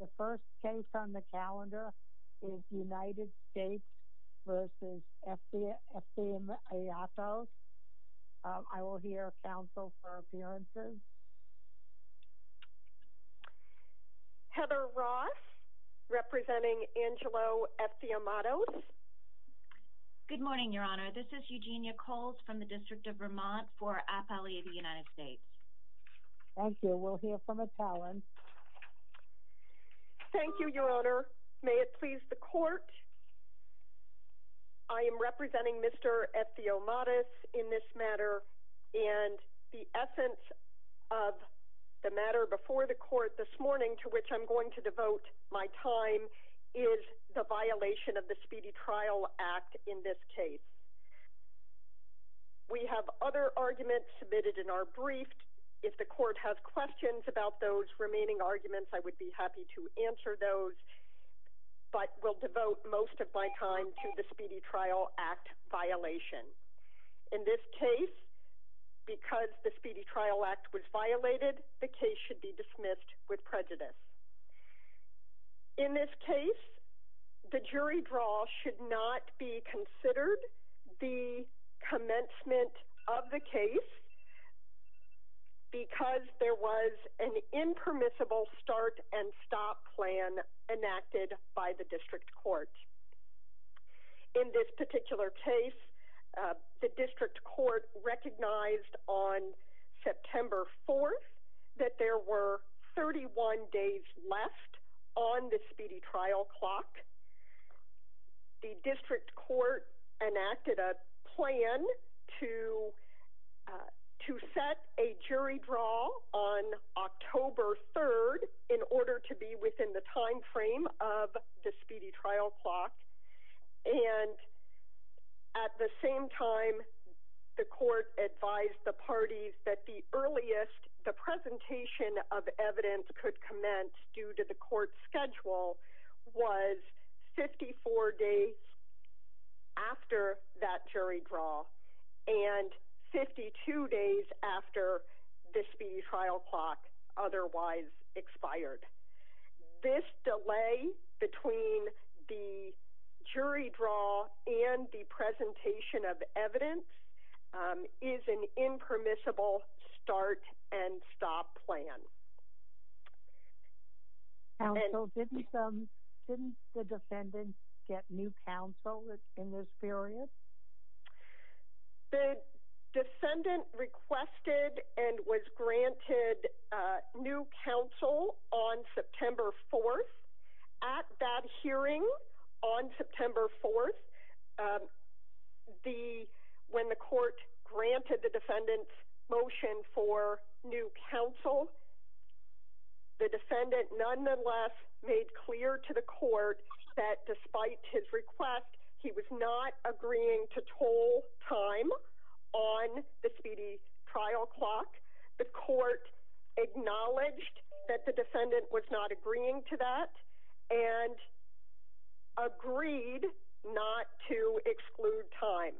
The first case on the calendar is United States v. Effie Effie Amato. I will hear counsel for appearances. Heather Ross, representing Angelo Effie Amato. Good morning, Your Honor. This is Eugenia Coles from the District of Vermont for AFALI of the United States. Thank you. We'll hear from a talent. Thank you, Your Honor. May it please the Court. I am representing Mr. Effie Amato in this matter. And the essence of the matter before the Court this morning to which I'm going to devote my time is the violation of the Speedy Trial Act in this case. We have other arguments submitted in our brief. If the Court has questions about those remaining arguments, I would be happy to answer those, but will devote most of my time to the Speedy Trial Act violation. In this case, because the Speedy Trial Act was violated, the case should be dismissed with prejudice. In this case, the jury draw should not be considered the commencement of the case because there was an impermissible start and stop plan enacted by the District Court. In this particular case, the District Court recognized on September 4th that there were 31 days left on the Speedy Trial Clock. The District Court enacted a plan to set a jury draw on October 3rd in order to be within the time frame of the Speedy Trial Clock. And at the same time, the Court advised the parties that the earliest the presentation of evidence could commence due to the Court's schedule was 54 days after that jury draw and 52 days after the Speedy Trial Clock otherwise expired. This delay between the jury draw and the presentation of evidence is an impermissible start and stop plan. Counsel, didn't the defendants get new counsel in this period? The defendant requested and was granted new counsel on September 4th. At that hearing on September 4th, when the Court granted the defendant's motion for new counsel, the defendant nonetheless made clear to the Court that despite his request, he was not agreeing to toll time on the Speedy Trial Clock. The Court acknowledged that the defendant was not agreeing to that and agreed not to exclude time.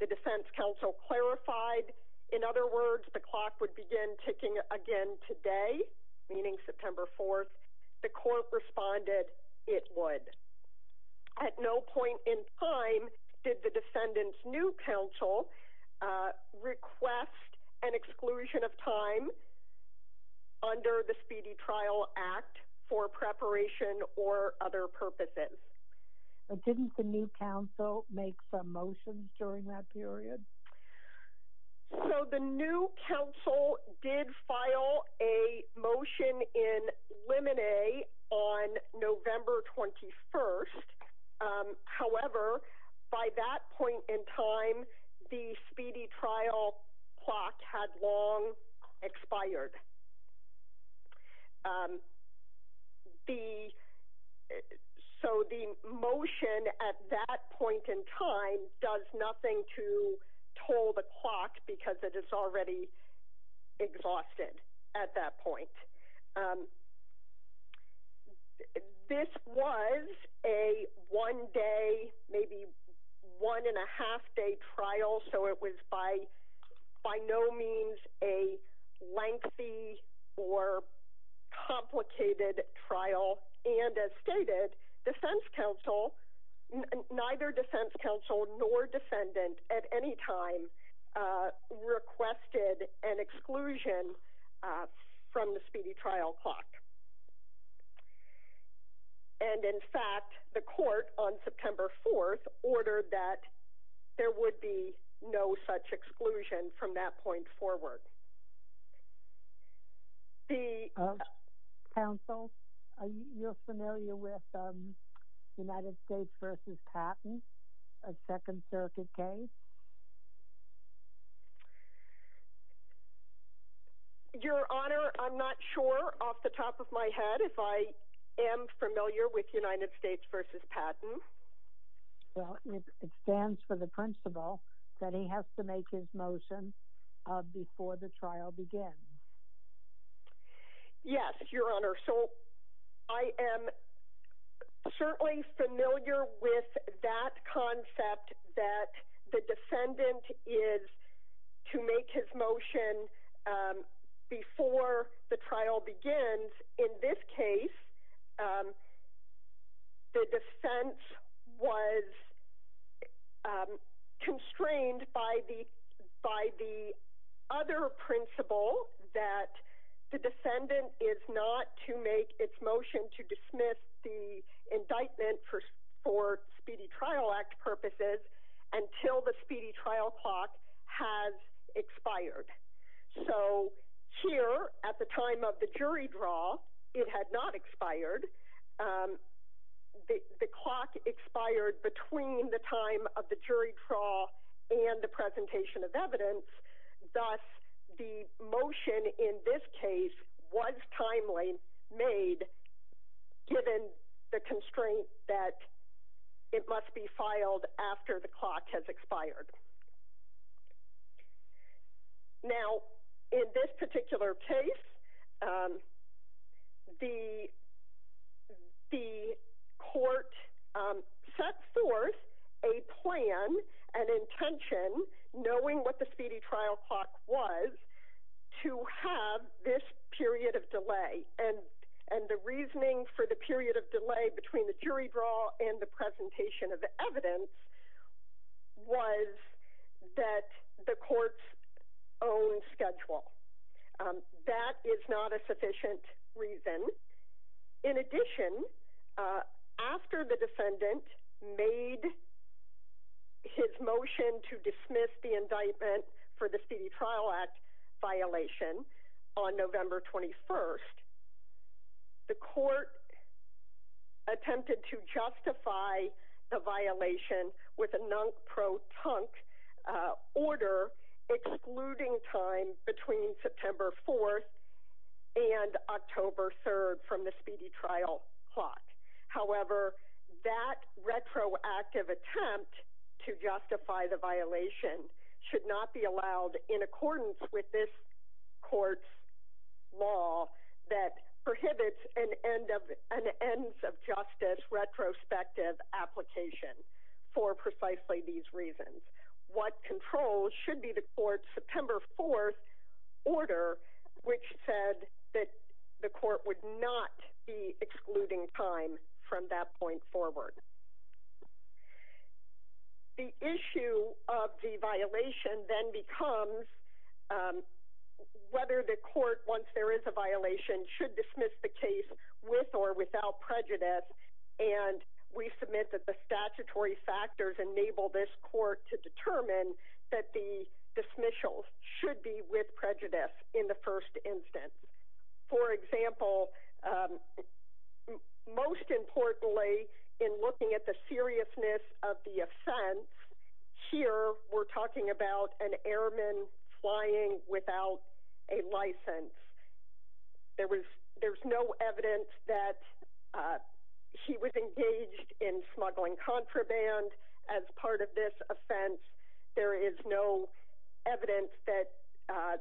The defense counsel clarified. In other words, the clock would begin ticking again today, meaning September 4th. The Court responded it would. At no point in time did the defendant's new counsel request an exclusion of time under the Speedy Trial Act for preparation or other purposes. Didn't the new counsel make some motions during that period? The new counsel did file a motion in limine on November 21st. However, by that point in time, the Speedy Trial Clock had long expired. So the motion at that point in time does nothing to toll the clock because it is already exhausted at that point. This was a one-day, maybe one-and-a-half-day trial, so it was by no means a lengthy or complicated trial. And as stated, neither defense counsel nor defendant at any time requested an exclusion from the Speedy Trial Clock. And in fact, the Court on September 4th ordered that there would be no such exclusion from that point forward. Counsel, are you familiar with United States v. Patton, a Second Circuit case? Your Honor, I'm not sure off the top of my head if I am familiar with United States v. Patton. Well, it stands for the principle that he has to make his motion before the trial begins. Yes, Your Honor. So I am certainly familiar with that concept that the defendant is to make his motion before the trial begins. In this case, the defense was constrained by the other principle that the defendant is not to make its motion to dismiss the indictment for Speedy Trial Act purposes until the Speedy Trial Clock has expired. So here, at the time of the jury draw, it had not expired. The clock expired between the time of the jury draw and the presentation of evidence. Thus, the motion in this case was timely made given the constraint that it must be filed after the clock has expired. Now, in this particular case, the Court set forth a plan, an intention, knowing what the Speedy Trial Clock was, to have this period of delay. And the reasoning for the period of delay between the jury draw and the presentation of the evidence was that the Court's own schedule. That is not a sufficient reason. In addition, after the defendant made his motion to dismiss the indictment for the Speedy Trial Act violation on November 21st, the Court attempted to justify the violation with a non-protunct order excluding time between September 4th and October 3rd from the Speedy Trial Clock. However, that retroactive attempt to justify the violation should not be allowed in accordance with this Court's law that prohibits an ends-of-justice retrospective application for precisely these reasons. What controls should be the Court's September 4th order, which said that the Court would not be excluding time from that point forward. The issue of the violation then becomes whether the Court, once there is a violation, should dismiss the case with or without prejudice. We submit that the statutory factors enable this Court to determine that the dismissals should be with prejudice in the first instance. For example, most importantly in looking at the seriousness of the offense, here we're talking about an airman flying without a license. There's no evidence that he was engaged in smuggling contraband as part of this offense. There is no evidence that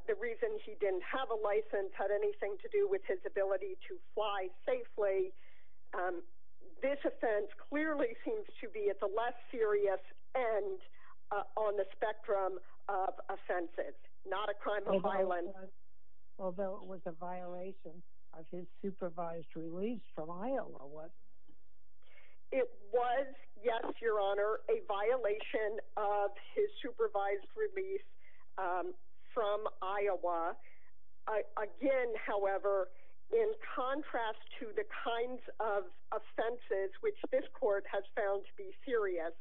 the reason he didn't have a license had anything to do with his ability to fly safely. This offense clearly seems to be at the less serious end on the spectrum of offenses, not a crime of violence. Although it was a violation of his supervised release from Iowa, wasn't it? It was, yes, Your Honor, a violation of his supervised release from Iowa. Again, however, in contrast to the kinds of offenses which this Court has found to be serious,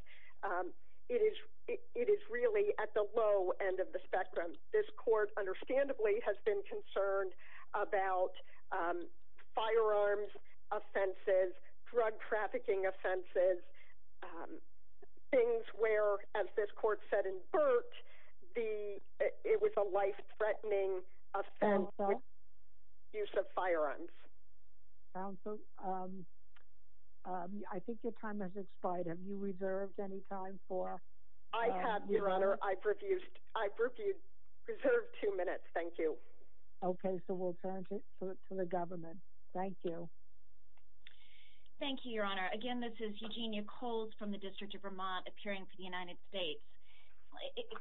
this Court understandably has been concerned about firearms offenses, drug trafficking offenses, things where, as this Court said in Burke, it was a life-threatening offense with the use of firearms. Counsel, I think your time has expired. Have you reserved any time for... I have, Your Honor. I've reserved two minutes. Thank you. Okay, so we'll turn to the government. Thank you. Thank you, Your Honor. Again, this is Eugenia Coles from the District of Vermont appearing for the United States.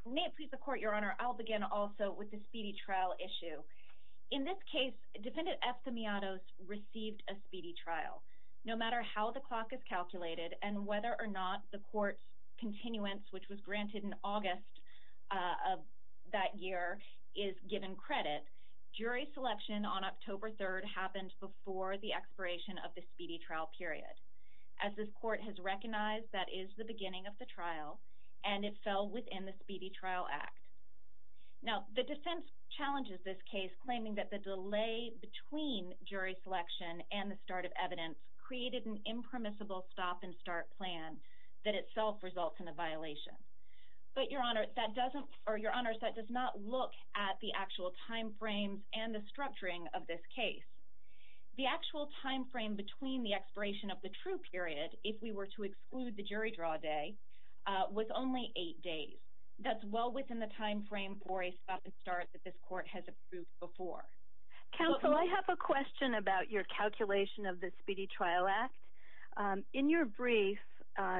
May it please the Court, Your Honor, I'll begin also with the speedy trial issue. In this case, Defendant Efthimiados received a speedy trial. No matter how the clock is calculated and whether or not the Court's continuance, which was granted in August of that year, is given credit, jury selection on October 3rd happened before the expiration of the speedy trial period. As this Court has recognized, that is the beginning of the trial, and it fell within the Speedy Trial Act. Now, the defense challenges this case claiming that the delay between jury selection and the start of evidence created an impermissible stop-and-start plan that itself results in a violation. But, Your Honor, that does not look at the actual time frames and the structuring of this case. The actual time frame between the expiration of the true period, if we were to exclude the jury draw day, was only eight days. That's well within the time frame for a stop-and-start that this Court has approved before. Counsel, I have a question about your calculation of the Speedy Trial Act. In your brief,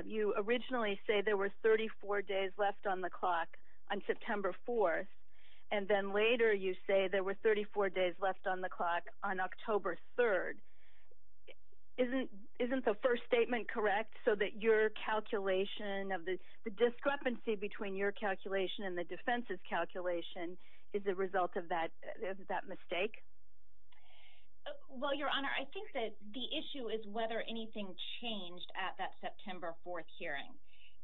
you originally say there were 34 days left on the clock on September 4th, and then later you say there were 34 days left on the clock on October 3rd. Isn't the first statement correct so that your calculation of the discrepancy between your calculation and the defense's calculation is the result of that mistake? Well, Your Honor, I think that the issue is whether anything changed at that September 4th hearing.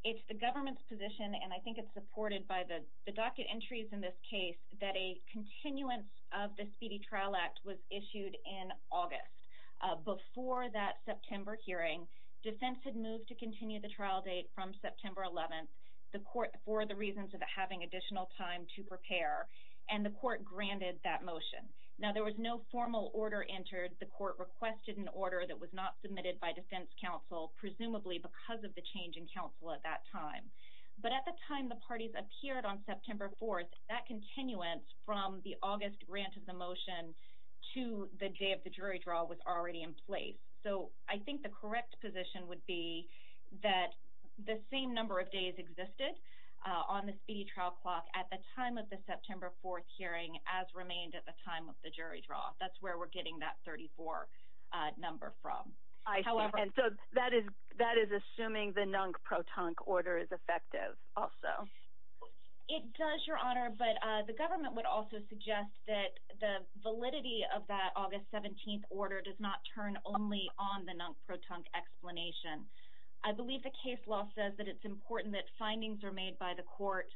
It's the government's position, and I think it's supported by the docket entries in this case, that a continuance of the Speedy Trial Act was issued in August. Before that September hearing, defense had moved to continue the trial date from September 11th for the reasons of having additional time to prepare, and the Court granted that motion. Now, there was no formal order entered. The Court requested an order that was not submitted by defense counsel, presumably because of the change in counsel at that time. But at the time the parties appeared on September 4th, that continuance from the August grant of the motion to the day of the jury draw was already in place. So I think the correct position would be that the same number of days existed on the Speedy Trial Clock at the time of the September 4th hearing as remained at the time of the jury draw. That's where we're getting that 34 number from. I see, and so that is assuming the NUNC protunc order is effective also. It does, Your Honor, but the government would also suggest that the validity of that August 17th order does not turn only on the NUNC protunc explanation. I believe the case law says that it's important that findings are made by the Court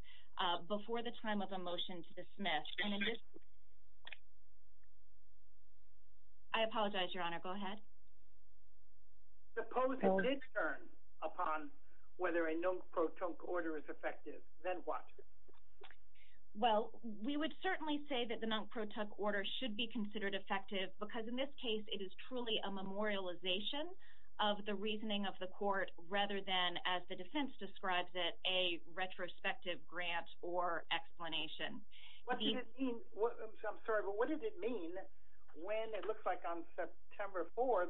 before the time of a motion to dismiss. Excuse me. I apologize, Your Honor. Go ahead. Suppose it did turn upon whether a NUNC protunc order is effective. Then what? Well, we would certainly say that the NUNC protunc order should be considered effective because in this case it is truly a memorialization of the reasoning of the Court rather than, as the defense describes it, a retrospective grant or explanation. I'm sorry, but what did it mean when it looks like on September 4th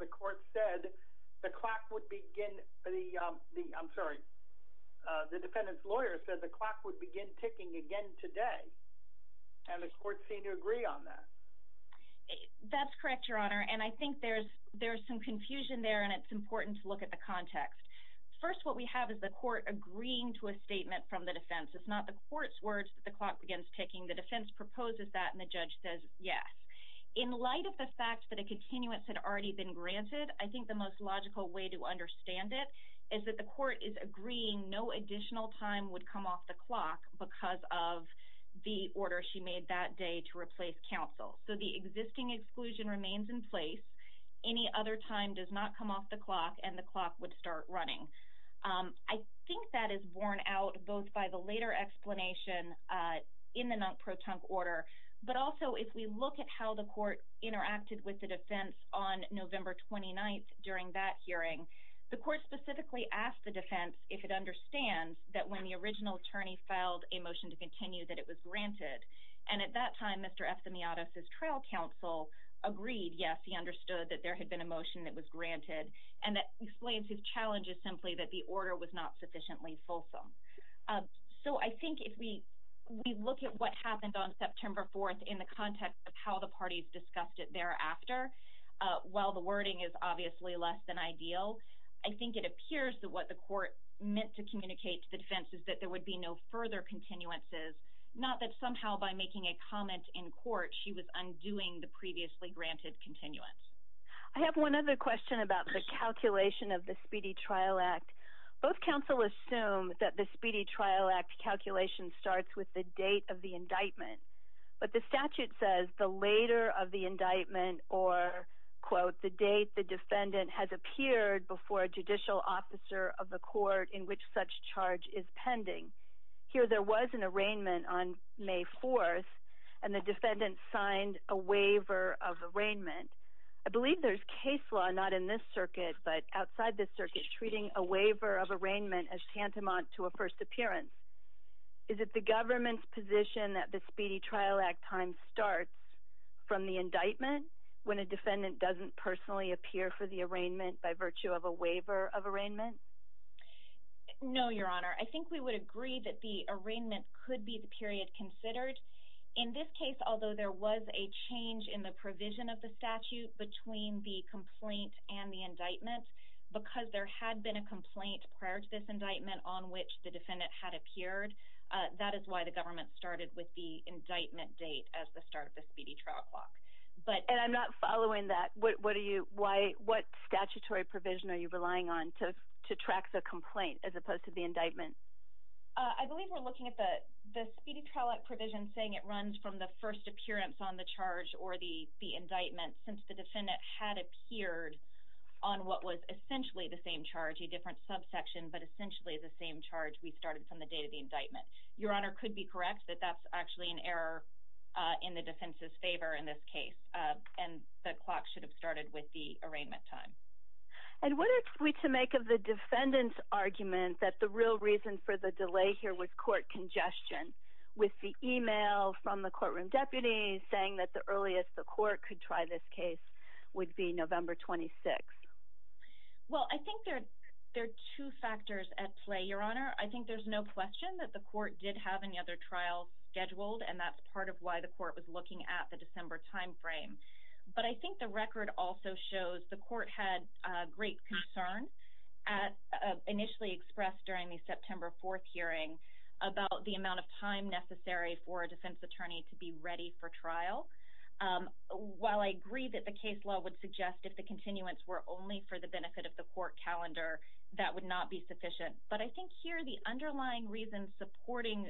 the defendant's lawyer said the clock would begin ticking again today and the Court seemed to agree on that? That's correct, Your Honor, and I think there's some confusion there and it's important to look at the context. First, what we have is the Court agreeing to a statement from the defense. It's not the Court's words that the clock begins ticking. The defense proposes that and the judge says yes. In light of the fact that a continuance had already been granted, I think the most logical way to understand it is that the Court is agreeing no additional time would come off the clock because of the order she made that day to replace counsel. So the existing exclusion remains in place. Any other time does not come off the clock and the clock would start running. I think that is borne out both by the later explanation in the NUNC protunc order, but also if we look at how the Court interacted with the defense on November 29th during that hearing, the Court specifically asked the defense if it understands that when the original attorney filed a motion to continue that it was granted and at that time Mr. Efthimiadis' trial counsel agreed, yes, he understood that there had been a motion that was granted and that explains his challenges simply that the order was not sufficiently fulsome. So I think if we look at what happened on September 4th in the context of how the parties discussed it thereafter, while the wording is obviously less than ideal, I think it appears that what the Court meant to communicate to the defense is that there would be no further continuances, not that somehow by making a comment in court she was undoing the previously granted continuance. I have one other question about the calculation of the Speedy Trial Act. Both counsel assume that the Speedy Trial Act calculation starts with the date of the indictment, but the statute says the later of the indictment or, quote, the date the defendant has appeared before a judicial officer of the court in which such charge is pending. Here there was an arraignment on May 4th and the defendant signed a waiver of arraignment. I believe there's case law, not in this circuit, but outside this circuit, treating a waiver of arraignment as tantamount to a first appearance. Is it the government's position that the Speedy Trial Act time starts from the indictment when a defendant doesn't personally appear for the arraignment by virtue of a waiver of arraignment? No, Your Honor. I think we would agree that the arraignment could be the period considered. In this case, although there was a change in the provision of the statute between the complaint and the indictment because there had been a complaint prior to this indictment on which the defendant had appeared, that is why the government started with the indictment date as the start of the Speedy Trial Clock. And I'm not following that. What statutory provision are you relying on to track the complaint as opposed to the indictment? I believe we're looking at the Speedy Trial Act provision saying it runs from the first appearance on the charge or the indictment since the defendant had appeared on what was essentially the same charge, a different subsection, but essentially the same charge we started from the date of the indictment. Your Honor could be correct that that's actually an error in the defense's favor in this case, and the clock should have started with the arraignment time. And what is it to make of the defendant's argument that the real reason for the delay here was court congestion with the email from the courtroom deputy saying that the earliest the court could try this case would be November 26th? Well, I think there are two factors at play, Your Honor. I think there's no question that the court did have any other trials scheduled, and that's part of why the court was looking at the December timeframe. But I think the record also shows the court had great concern initially expressed during the September 4th hearing about the amount of time necessary for a defense attorney to be ready for trial. While I agree that the case law would suggest if the continuance were only for the benefit of the court calendar, that would not be sufficient, but I think here the underlying reason supporting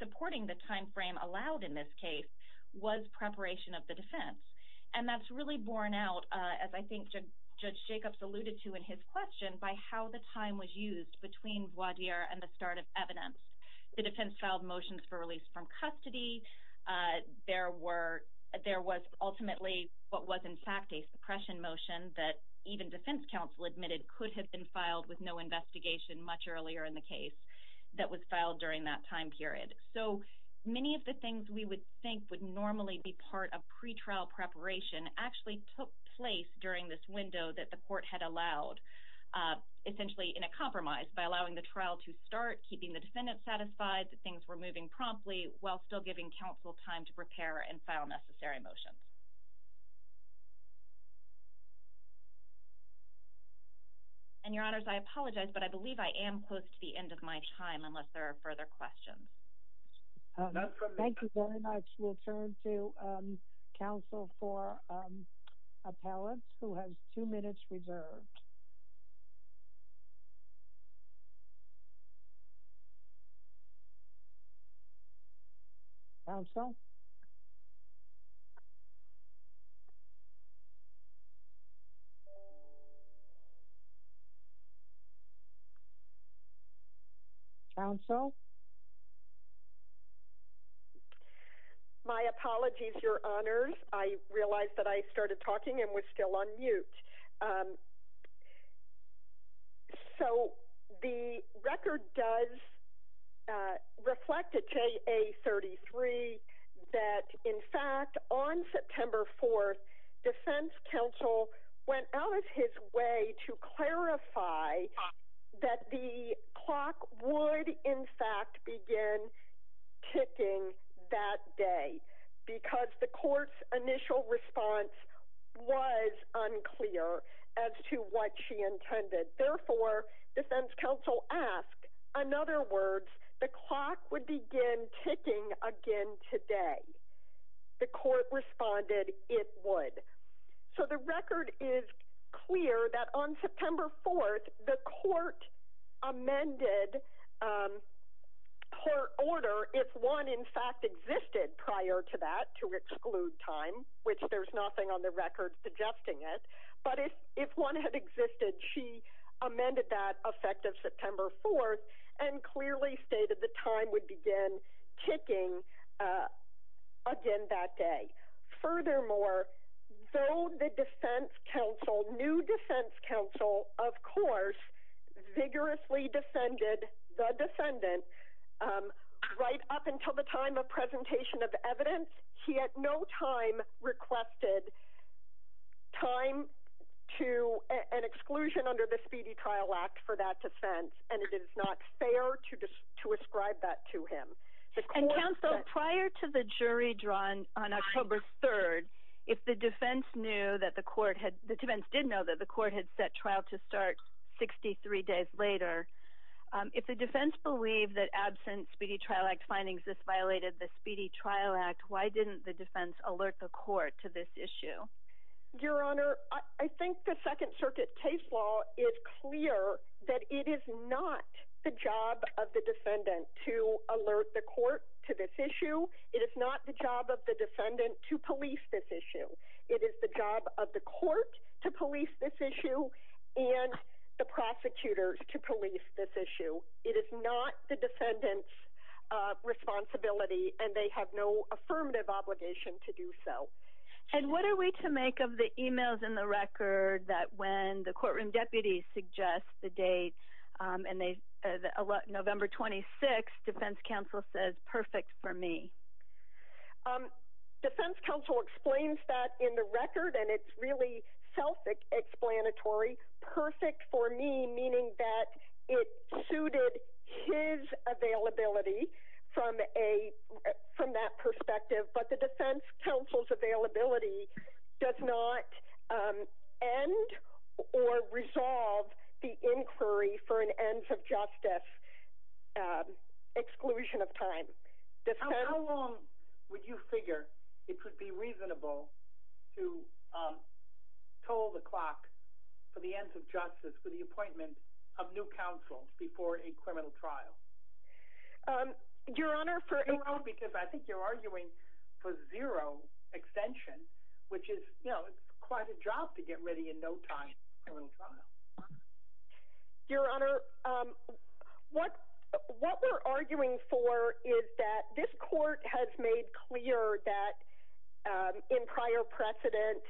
the timeframe allowed in this case was preparation of the defense. And that's really borne out, as I think Judge Jacobs alluded to in his question, by how the time was used between voir dire and the start of evidence. The defense filed motions for release from custody. There was ultimately what was in fact a suppression motion that even defense counsel admitted could have been filed with no investigation much earlier in the case that was filed during that time period. So many of the things we would think would normally be part of pretrial preparation actually took place during this window that the court had allowed, essentially in a compromise by allowing the trial to start, keeping the defendant satisfied that things were moving promptly while still giving counsel time to prepare and file necessary motions. And, Your Honors, I apologize, but I believe I am close to the end of my time unless there are further questions. Thank you very much. We'll turn to counsel for appellants who has two minutes reserved. Counsel? Counsel? My apologies, Your Honors. I realized that I started talking and was still on mute. So the record does reflect at JA-33 that, in fact, on September 4th, defense counsel went out of his way to clarify that the clock would, in fact, begin ticking that day because the court's initial response was unclear as to what she intended. Therefore, defense counsel asked, in other words, the clock would begin ticking again today. The court responded it would. So the record is clear that, on September 4th, the court amended court order if one, in fact, existed prior to that to exclude time, which there's nothing on the record suggesting it. But if one had existed, she amended that effective September 4th and clearly stated the time would begin ticking again that day. Furthermore, though the defense counsel, new defense counsel, of course, vigorously defended the defendant right up until the time of presentation of evidence, he at no time requested time to an exclusion under the Speedy Trial Act for that defense, and it is not fair to ascribe that to him. And counsel, prior to the jury drawn on October 3rd, if the defense knew that the court had, the defense did know that the court had set trial to start 63 days later, if the defense believed that absent Speedy Trial Act findings, this violated the Speedy Trial Act, why didn't the defense alert the court to this issue? Your Honor, I think the Second Circuit case law is clear that it is not the job of the court to this issue. It is not the job of the defendant to police this issue. It is the job of the court to police this issue and the prosecutors to police this issue. It is not the defendant's responsibility, and they have no affirmative obligation to do so. And what are we to make of the emails in the record that when the courtroom says perfect for me? Defense counsel explains that in the record, and it's really self-explanatory, perfect for me, meaning that it suited his availability from that perspective. But the defense counsel's availability does not end or resolve the inquiry for an ends of justice exclusion of time. How long would you figure it would be reasonable to toll the clock for the ends of justice for the appointment of new counsel before a criminal trial? Your Honor, because I think you're arguing for zero extension, which is quite a job to get ready in no time. Your Honor, what we're arguing for is that this court has made clear that in prior precedent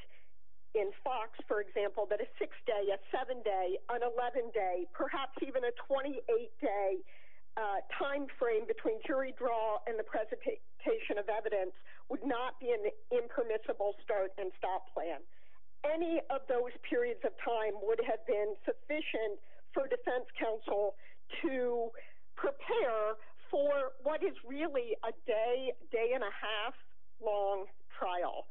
in Fox, for example, that a six day, a seven day, an 11 day, perhaps even a 28 day timeframe between jury draw and the presentation of evidence would not be an impermissible start and stop plan. Any of those periods of time would have been sufficient for defense counsel to prepare for what is really a day, day and a half long trial.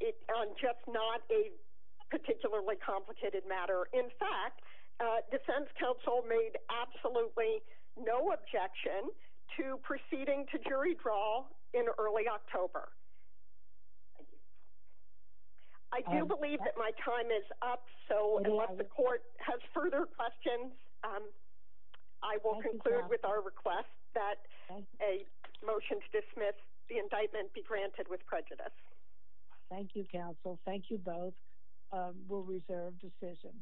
It's just not a particularly complicated matter. In fact, defense counsel made absolutely no objection to proceeding to jury draw in early October. I do believe that my time is up, so unless the court has further questions, I will conclude with our request that a motion to dismiss the indictment be granted with prejudice. Thank you, counsel. Thank you both. We'll reserve decision.